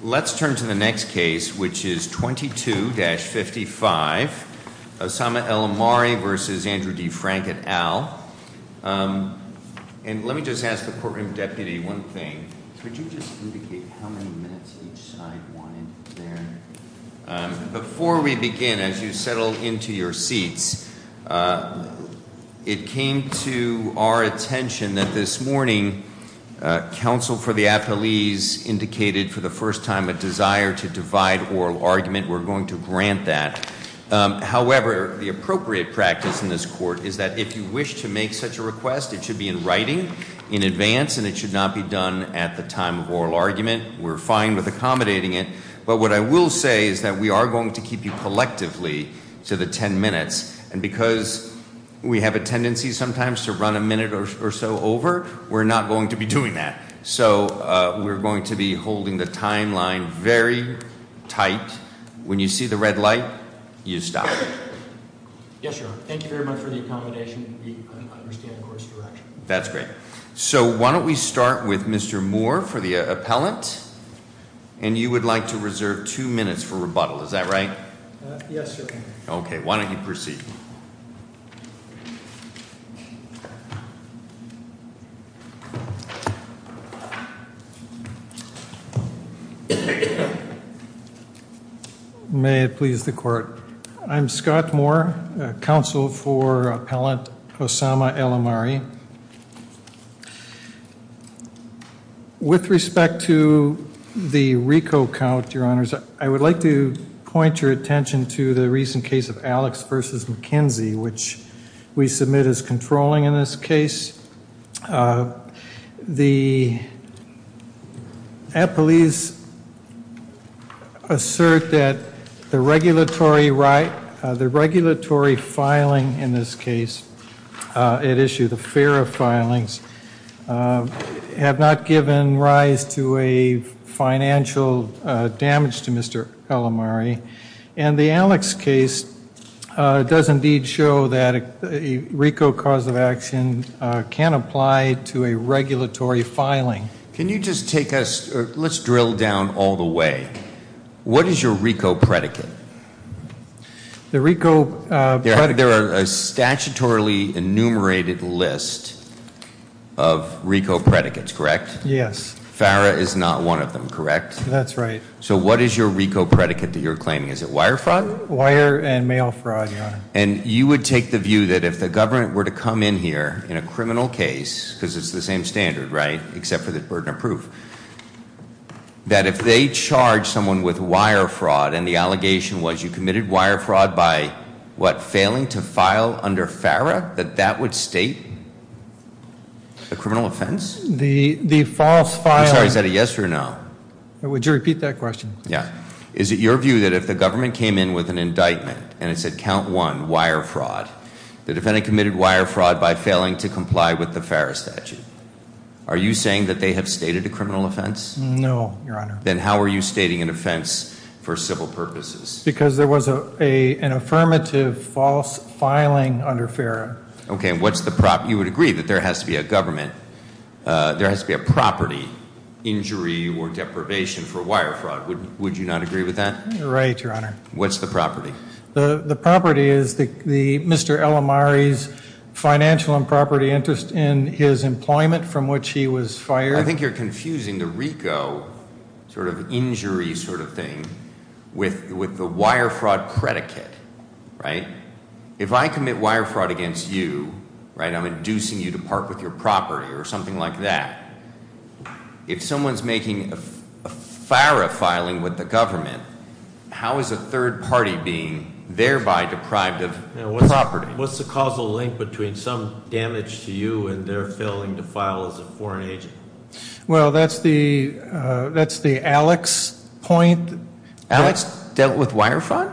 Let's turn to the next case, which is 22-55, Osama El Omari v. Andrew D. Frank et al. And let me just ask the courtroom deputy one thing. Could you just indicate how many minutes each side wanted there? Before we begin, as you settle into your seats, it came to our attention that this morning, counsel for the athletes indicated for the first time a desire to divide oral argument. We're going to grant that. However, the appropriate practice in this court is that if you wish to make such a request, it should be in writing in advance, and it should not be done at the time of oral argument. We're fine with accommodating it. But what I will say is that we are going to keep you collectively to the 10 minutes. And because we have a tendency sometimes to run a minute or so over, we're not going to be doing that. So we're going to be holding the timeline very tight. When you see the red light, you stop. Yes, sir. Thank you very much for the accommodation. We understand the court's direction. That's great. So why don't we start with Mr. Moore for the appellant? And you would like to reserve two minutes for rebuttal. Is that right? Yes, sir. Okay. Why don't you proceed? May it please the court. I'm Scott Moore, counsel for appellant. With respect to the RICO count, your honors, I would like to point your attention to the recent case of Alex versus McKenzie, which we submit as controlling in this case. The police assert that the regulatory right, the regulatory filing in this case, it issued a fair of filings have not given rise to a financial damage to Mr. And the Alex case does indeed show that a RICO cause of action can apply to a regulatory filing. Can you just take us? Let's drill down all the way. What is your RICO predicate? The RICO. There are a statutorily enumerated list of RICO predicates, correct? Yes. Farrah is not one of them, correct? That's right. So what is your RICO predicate that you're claiming? Is it wire front wire and mail fraud? And you would take the view that if the government were to come in here in a criminal case because it's the same standard, right? Except for the burden of proof that if they charge someone with wire fraud and the allegation was you committed wire fraud by what? Failing to file under Farrah, that that would state. The criminal offense, the the false fire. Is that a yes or no? Would you repeat that question? Yeah. Is it your view that if the government came in with an indictment and it said count one wire fraud, the defendant committed wire fraud by failing to comply with the Ferris statute. Are you saying that they have stated a criminal offense? No. Then how are you stating an offense for civil purposes? Because there was a an affirmative false filing under Farrah. OK, what's the prop? You would agree that there has to be a government. There has to be a property injury or deprivation for wire fraud. Would would you not agree with that? Right. Your Honor. What's the property? The property is the Mr. L. Amari's financial and property interest in his employment from which he was fired. I think you're confusing the RICO sort of injury sort of thing with with the wire fraud predicate. Right. If I commit wire fraud against you, right, I'm inducing you to park with your property or something like that. If someone's making a Farrah filing with the government, how is a third party being thereby deprived of property? What's the causal link between some damage to you and their failing to file as a foreign agent? Well, that's the that's the Alex point. Alex dealt with wire fraud.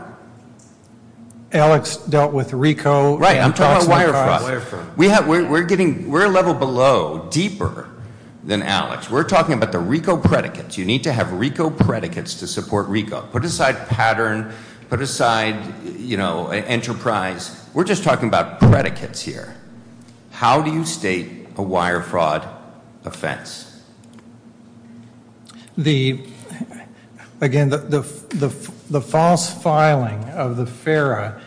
Alex dealt with RICO. Right. I'm talking about wire fraud. We have we're getting we're a level below deeper than Alex. We're talking about the RICO predicates. You need to have RICO predicates to support RICO. Put aside pattern. Put aside, you know, enterprise. We're just talking about predicates here. How do you state a wire fraud offense? The again, the the the false filing of the Farrah.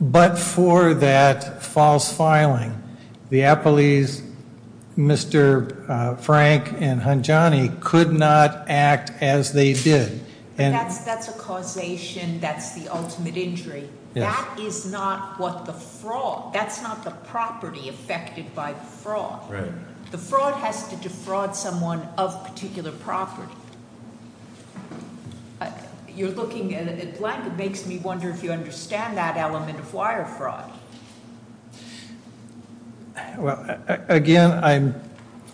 But for that false filing, the Appleys, Mr. Frank and Hanjani could not act as they did. And that's that's a causation. That's the ultimate injury. That is not what the fraud. That's not the property affected by fraud. The fraud has to defraud someone of particular property. You're looking at it. It makes me wonder if you understand that element of wire fraud. Well, again, I'm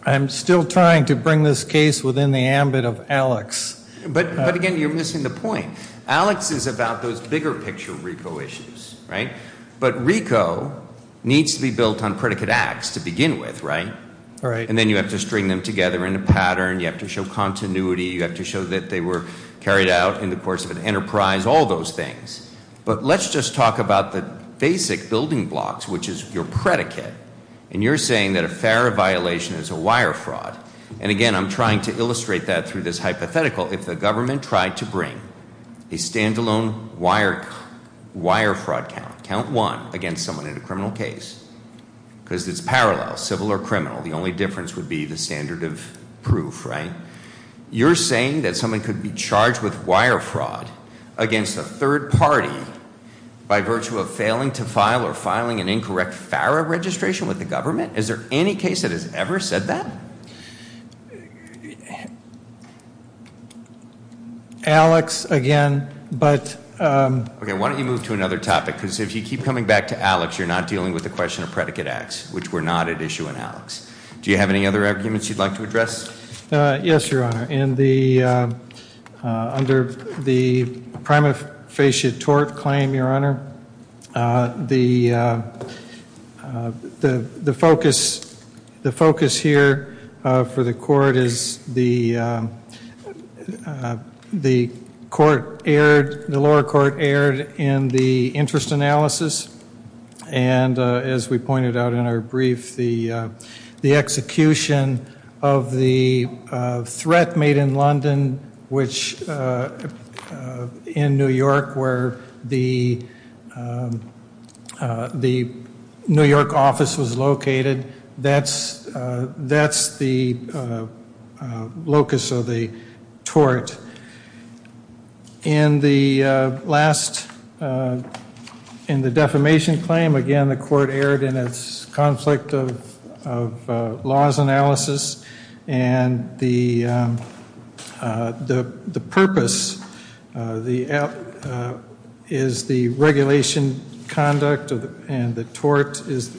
I'm still trying to bring this case within the ambit of Alex. But again, you're missing the point. Alex is about those bigger picture RICO issues. Right. But RICO needs to be built on predicate acts to begin with. Right. All right. And then you have to string them together in a pattern. You have to show continuity. You have to show that they were carried out in the course of an enterprise, all those things. But let's just talk about the basic building blocks, which is your predicate. And you're saying that a fair violation is a wire fraud. And again, I'm trying to illustrate that through this hypothetical. If the government tried to bring a standalone wire wire fraud count, count one against someone in a criminal case because it's parallel civil or criminal. The only difference would be the standard of proof. Right. You're saying that someone could be charged with wire fraud against a third party by virtue of failing to file or filing an incorrect FARA registration with the government. Is there any case that has ever said that? Alex again. But why don't you move to another topic? Because if you keep coming back to Alex, you're not dealing with the question of predicate acts, which were not at issue in Alex. Do you have any other arguments you'd like to address? Yes, Your Honor. Under the prima facie tort claim, Your Honor, the focus here for the court is the lower court erred in the interest analysis. And as we pointed out in our brief, the execution of the threat made in London, which in New York where the New York office was located, that's the locus of the tort. In the last, in the defamation claim, again, the court erred in its conflict of laws analysis. And the purpose is the regulation conduct and the tort is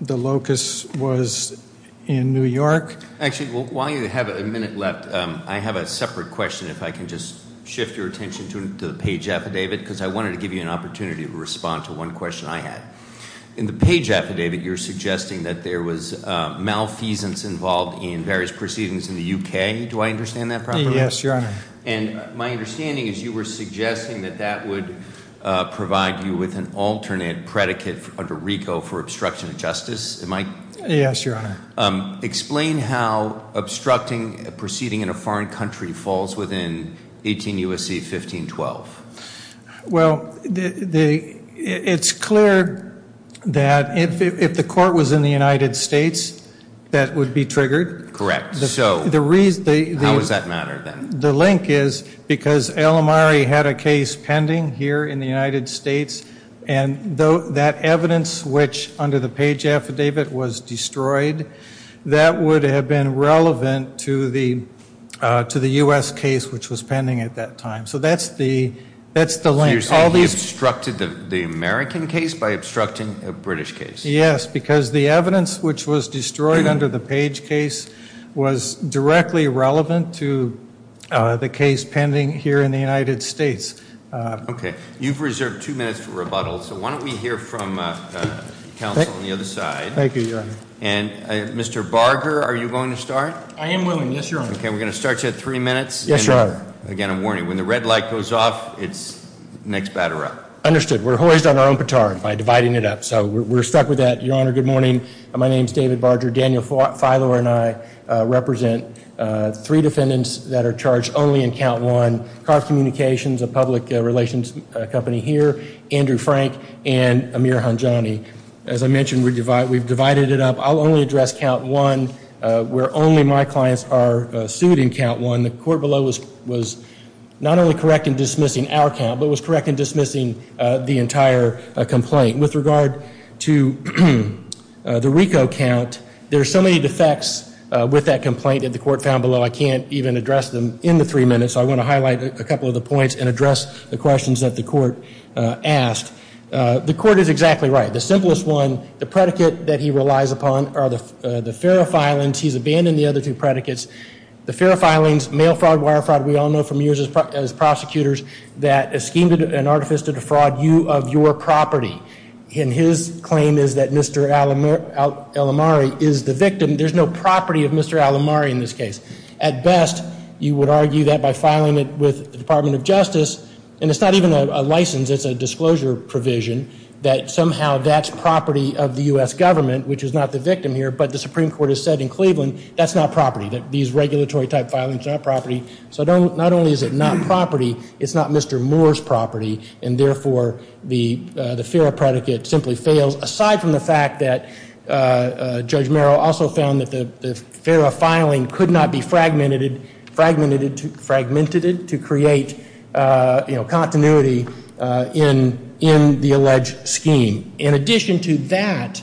the locus was in New York. Actually, while you have a minute left, I have a separate question if I can just shift your attention to the page affidavit, because I wanted to give you an opportunity to respond to one question I had. In the page affidavit, you're suggesting that there was malfeasance involved in various proceedings in the UK. Do I understand that properly? Yes, Your Honor. And my understanding is you were suggesting that that would provide you with an alternate predicate under RICO for obstruction of justice. Yes, Your Honor. Explain how obstructing a proceeding in a foreign country falls within 18 U.S.C. 1512. Well, it's clear that if the court was in the United States, that would be triggered. Correct. So how does that matter then? The link is because El Amari had a case pending here in the United States, and that evidence which under the page affidavit was destroyed, that would have been relevant to the U.S. case which was pending at that time. So that's the link. So you're saying he obstructed the American case by obstructing a British case? Yes, because the evidence which was destroyed under the page case was directly relevant to the case pending here in the United States. Okay. You've reserved two minutes for rebuttal, so why don't we hear from counsel on the other side. Thank you, Your Honor. And Mr. Barger, are you going to start? I am willing, yes, Your Honor. Okay, we're going to start you at three minutes. Yes, Your Honor. Again, I'm warning you, when the red light goes off, it's next batter up. Understood. We're hoised on our own petard by dividing it up, so we're stuck with that. Your Honor, good morning. My name is David Barger. Daniel Filor and I represent three defendants that are charged only in count one, Carth Communications, a public relations company here, Andrew Frank, and Amir Hanjani. As I mentioned, we've divided it up. I'll only address count one where only my clients are sued in count one. And the court below was not only correct in dismissing our count, but was correct in dismissing the entire complaint. With regard to the RICO count, there are so many defects with that complaint that the court found below, I can't even address them in the three minutes, so I want to highlight a couple of the points and address the questions that the court asked. The court is exactly right. The simplest one, the predicate that he relies upon are the FARA filings. He's abandoned the other two predicates. The FARA filings, mail fraud, wire fraud, we all know from years as prosecutors that a scheme and artifice to defraud you of your property. And his claim is that Mr. Alamari is the victim. There's no property of Mr. Alamari in this case. At best, you would argue that by filing it with the Department of Justice, and it's not even a license, it's a disclosure provision, that somehow that's property of the U.S. government, which is not the victim here, but the Supreme Court has said in Cleveland that's not property, that these regulatory type filings are not property. So not only is it not property, it's not Mr. Moore's property, and therefore the FARA predicate simply fails, aside from the fact that Judge Merrill also found that the FARA filing could not be fragmented to create continuity in the alleged scheme. In addition to that,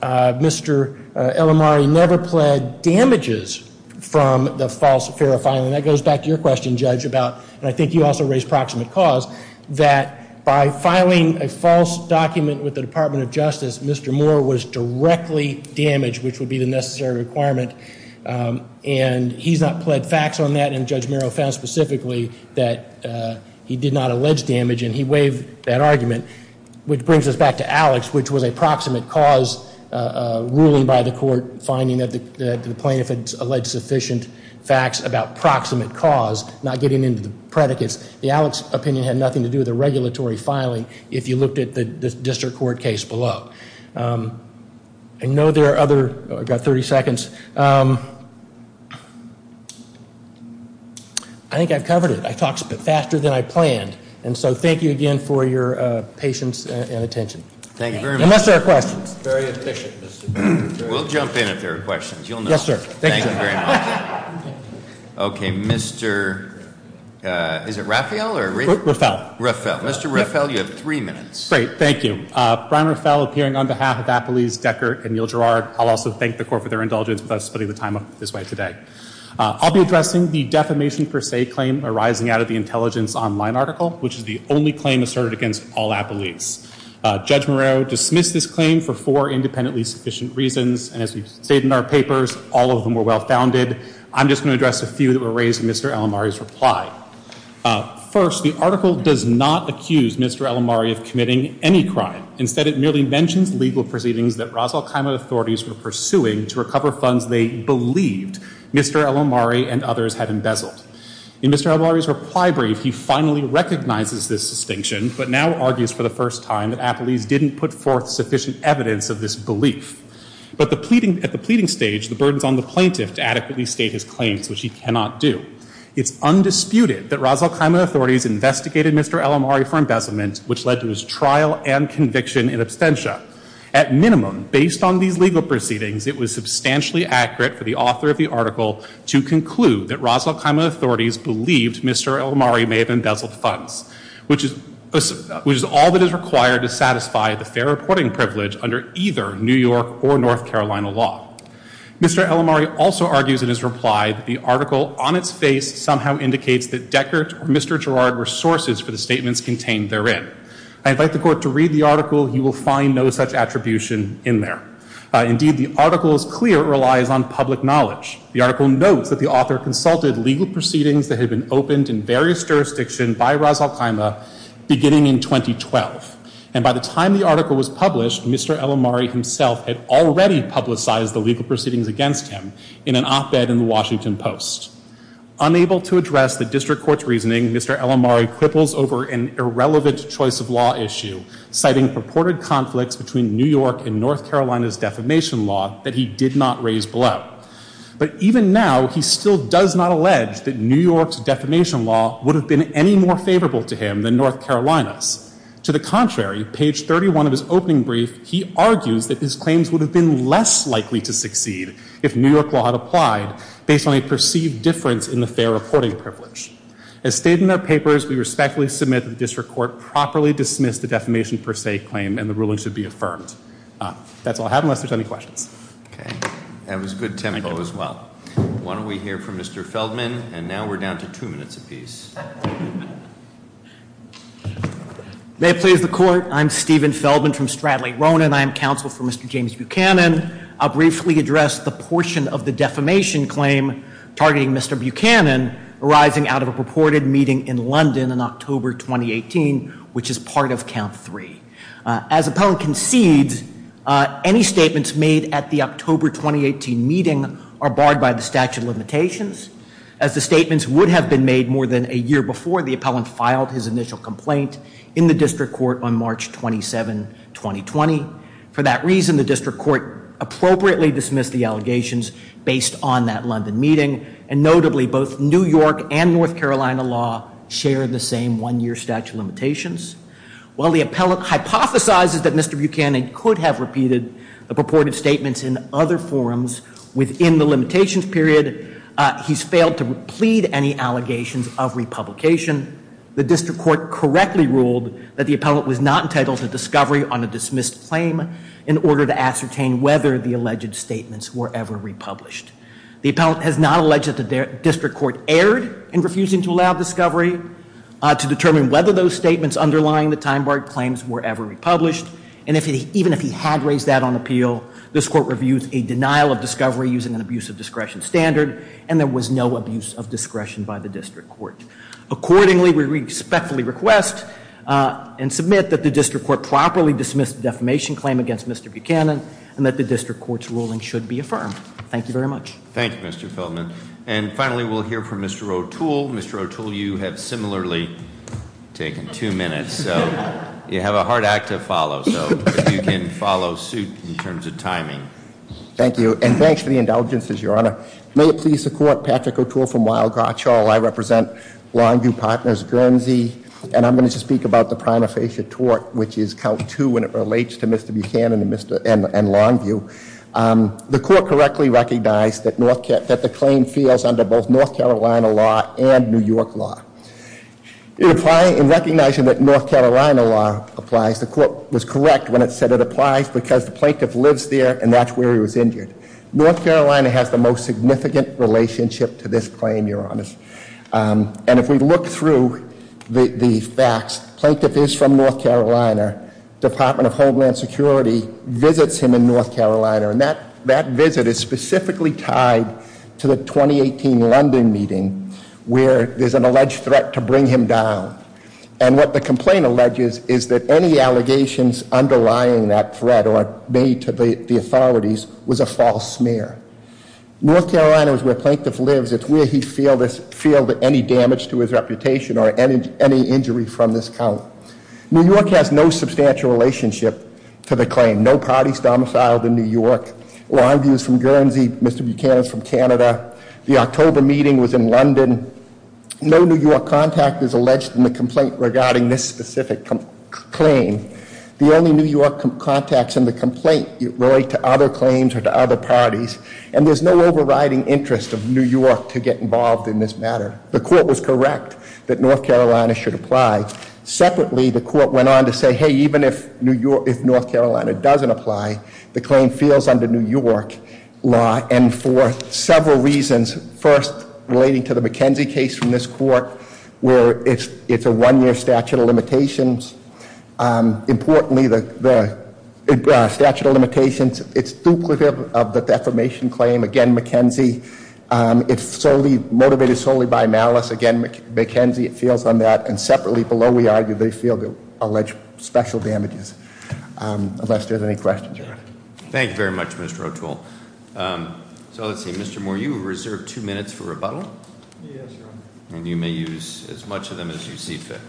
Mr. Alamari never pled damages from the false FARA filing. That goes back to your question, Judge, about, and I think you also raised proximate cause, that by filing a false document with the Department of Justice, Mr. Moore was directly damaged, which would be the necessary requirement, and he's not pled facts on that, and Judge Merrill found specifically that he did not allege damage, and he waived that argument, which brings us back to Alex, which was a proximate cause ruling by the court, finding that the plaintiff had alleged sufficient facts about proximate cause, not getting into the predicates. The Alex opinion had nothing to do with the regulatory filing, if you looked at the district court case below. I know there are other, oh, I've got 30 seconds. I think I've covered it. I talked faster than I planned, and so thank you again for your patience and attention. Thank you very much. Unless there are questions. Very efficient, Mr. Moore. We'll jump in if there are questions. You'll know. Yes, sir. Thank you very much. Okay. Mr. Is it Raphael or? Raphael. Raphael. Mr. Raphael, you have three minutes. Great. Thank you. Brian Raphael, appearing on behalf of Appelese, Decker, and Neal Gerard. I'll also thank the court for their indulgence with us putting the time up this way today. I'll be addressing the defamation per se claim arising out of the intelligence online article, which is the only claim asserted against all Appelese. Judge Moreau dismissed this claim for four independently sufficient reasons, and as we've stated in our papers, all of them were well-founded. I'm just going to address a few that were raised in Mr. Alomari's reply. First, the article does not accuse Mr. Alomari of committing any crime. Instead, it merely mentions legal proceedings that Ras al-Khaimah authorities were pursuing to recover funds they believed Mr. Alomari and others had embezzled. In Mr. Alomari's reply brief, he finally recognizes this distinction, but now argues for the first time that Appelese didn't put forth sufficient evidence of this belief. But at the pleading stage, the burden's on the plaintiff to adequately state his claims, which he cannot do. It's undisputed that Ras al-Khaimah authorities investigated Mr. Alomari for embezzlement, which led to his trial and conviction in absentia. At minimum, based on these legal proceedings, it was substantially accurate for the author of the article to conclude that Ras al-Khaimah authorities believed Mr. Alomari may have embezzled funds, which is all that is required to satisfy the fair reporting privilege under either New York or North Carolina law. Mr. Alomari also argues in his reply that the article on its face somehow indicates that Deckert or Mr. Gerard were sources for the statements contained therein. I invite the court to read the article. You will find no such attribution in there. Indeed, the article is clear it relies on public knowledge. The article notes that the author consulted legal proceedings that had been opened in various jurisdictions by Ras al-Khaimah beginning in 2012. And by the time the article was published, Mr. Alomari himself had already publicized the legal proceedings against him in an op-ed in the Washington Post. Unable to address the district court's reasoning, Mr. Alomari quibbles over an irrelevant choice of law issue, citing purported conflicts between New York and North Carolina's defamation law that he did not raise below. But even now, he still does not allege that New York's defamation law would have been any more favorable to him than North Carolina's. To the contrary, page 31 of his opening brief, he argues that his claims would have been less likely to succeed if New York law had applied based on a perceived difference in the fair reporting privilege. As stated in their papers, we respectfully submit that the district court properly dismissed the defamation per se claim and the ruling should be affirmed. That's all I have unless there's any questions. Okay. That was good tempo as well. Why don't we hear from Mr. Feldman. And now we're down to two minutes apiece. May it please the court. I'm Stephen Feldman from Stradley Ronan. I am counsel for Mr. James Buchanan. I'll briefly address the portion of the defamation claim targeting Mr. Buchanan arising out of a purported meeting in London in October 2018, which is part of count three. As appellant concedes, any statements made at the October 2018 meeting are barred by the statute of limitations. As the statements would have been made more than a year before the appellant filed his initial complaint in the district court on March 27, 2020. For that reason, the district court appropriately dismissed the allegations based on that London meeting. And notably, both New York and North Carolina law share the same one year statute of limitations. While the appellant hypothesizes that Mr. Buchanan could have repeated the purported statements in other forums within the limitations period, he's failed to plead any allegations of republication. In addition, the district court correctly ruled that the appellant was not entitled to discovery on a dismissed claim in order to ascertain whether the alleged statements were ever republished. The appellant has not alleged that the district court erred in refusing to allow discovery to determine whether those statements underlying the time-barred claims were ever republished. And even if he had raised that on appeal, this court reviews a denial of discovery using an abuse of discretion standard, and there was no abuse of discretion by the district court. Accordingly, we respectfully request and submit that the district court properly dismiss the defamation claim against Mr. Buchanan, and that the district court's ruling should be affirmed. Thank you very much. Thank you, Mr. Feldman. And finally, we'll hear from Mr. O'Toole. Mr. O'Toole, you have similarly taken two minutes, so you have a hard act to follow. So if you can follow suit in terms of timing. Thank you, and thanks for the indulgences, Your Honor. May it please the court, Patrick O'Toole from Weill Garchall. I represent Longview Partners Guernsey, and I'm going to speak about the prima facie tort, which is count two when it relates to Mr. Buchanan and Longview. The court correctly recognized that the claim fails under both North Carolina law and New York law. In recognizing that North Carolina law applies, the court was correct when it said it applies because the plaintiff lives there, and that's where he was injured. North Carolina has the most significant relationship to this claim, Your Honor. And if we look through the facts, the plaintiff is from North Carolina. Department of Homeland Security visits him in North Carolina, and that visit is specifically tied to the 2018 London meeting where there's an alleged threat to bring him down. And what the complaint alleges is that any allegations underlying that threat or are made to the authorities was a false smear. North Carolina is where the plaintiff lives. It's where he felt any damage to his reputation or any injury from this count. New York has no substantial relationship to the claim. No party is domiciled in New York. Longview is from Guernsey. Mr. Buchanan is from Canada. The October meeting was in London. No New York contact is alleged in the complaint regarding this specific claim. The only New York contacts in the complaint relate to other claims or to other parties, and there's no overriding interest of New York to get involved in this matter. The court was correct that North Carolina should apply. Separately, the court went on to say, hey, even if North Carolina doesn't apply, the claim feels under New York law, and for several reasons. First, relating to the McKenzie case from this court where it's a one-year statute of limitations. Importantly, the statute of limitations, it's duplicative of the defamation claim. Again, McKenzie, it's motivated solely by malice. Again, McKenzie, it feels on that. And separately, below, we argue they feel the alleged special damages, unless there's any questions. Thank you very much, Mr. O'Toole. So let's see, Mr. Moore, you were reserved two minutes for rebuttal. Yes, Your Honor. And you may use as much of them as you see fit.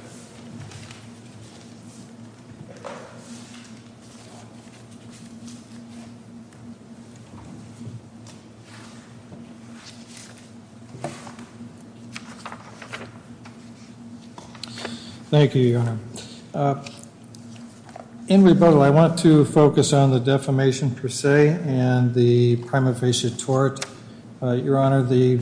Thank you, Your Honor. In rebuttal, I want to focus on the defamation per se and the prima facie tort. Your Honor, the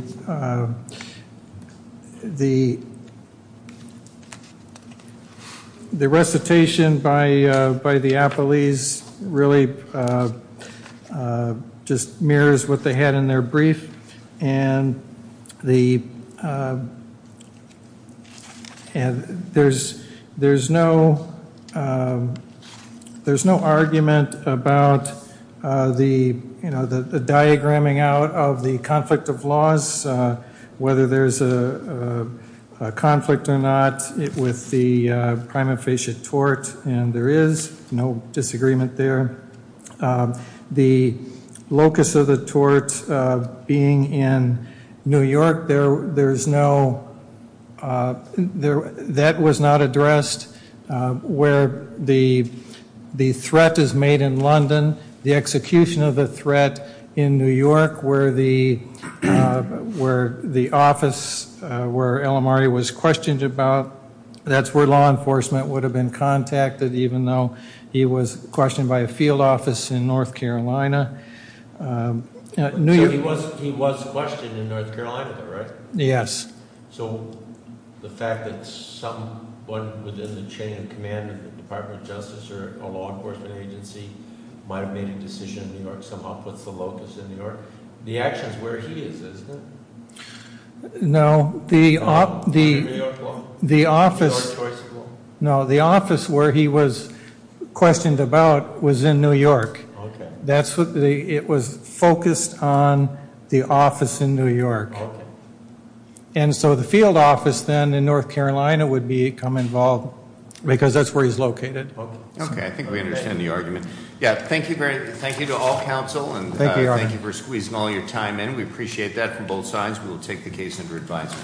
recitation by the appellees really just mirrors what they had in their brief. And there's no argument about the diagramming out of the conflict of laws, whether there's a conflict or not, with the prima facie tort, and there is no disagreement there. The locus of the tort being in New York, that was not addressed. Where the threat is made in London, the execution of the threat in New York, where the office where El Amari was questioned about, that's where law enforcement would have been contacted, even though he was questioned by a field office in North Carolina. So he was questioned in North Carolina, though, right? Yes. So the fact that someone within the chain of command of the Department of Justice or a law enforcement agency might have made a decision in New York somehow puts the locus in New York. The action is where he is, isn't it? No. The New York law school? No, the office where he was questioned. The office where he was questioned about was in New York. Okay. It was focused on the office in New York. Okay. And so the field office then in North Carolina would become involved because that's where he's located. Okay, I think we understand the argument. Yeah, thank you to all counsel. Thank you, Your Honor. And thank you for squeezing all your time in. We appreciate that from both sides. We will take the case under advisement.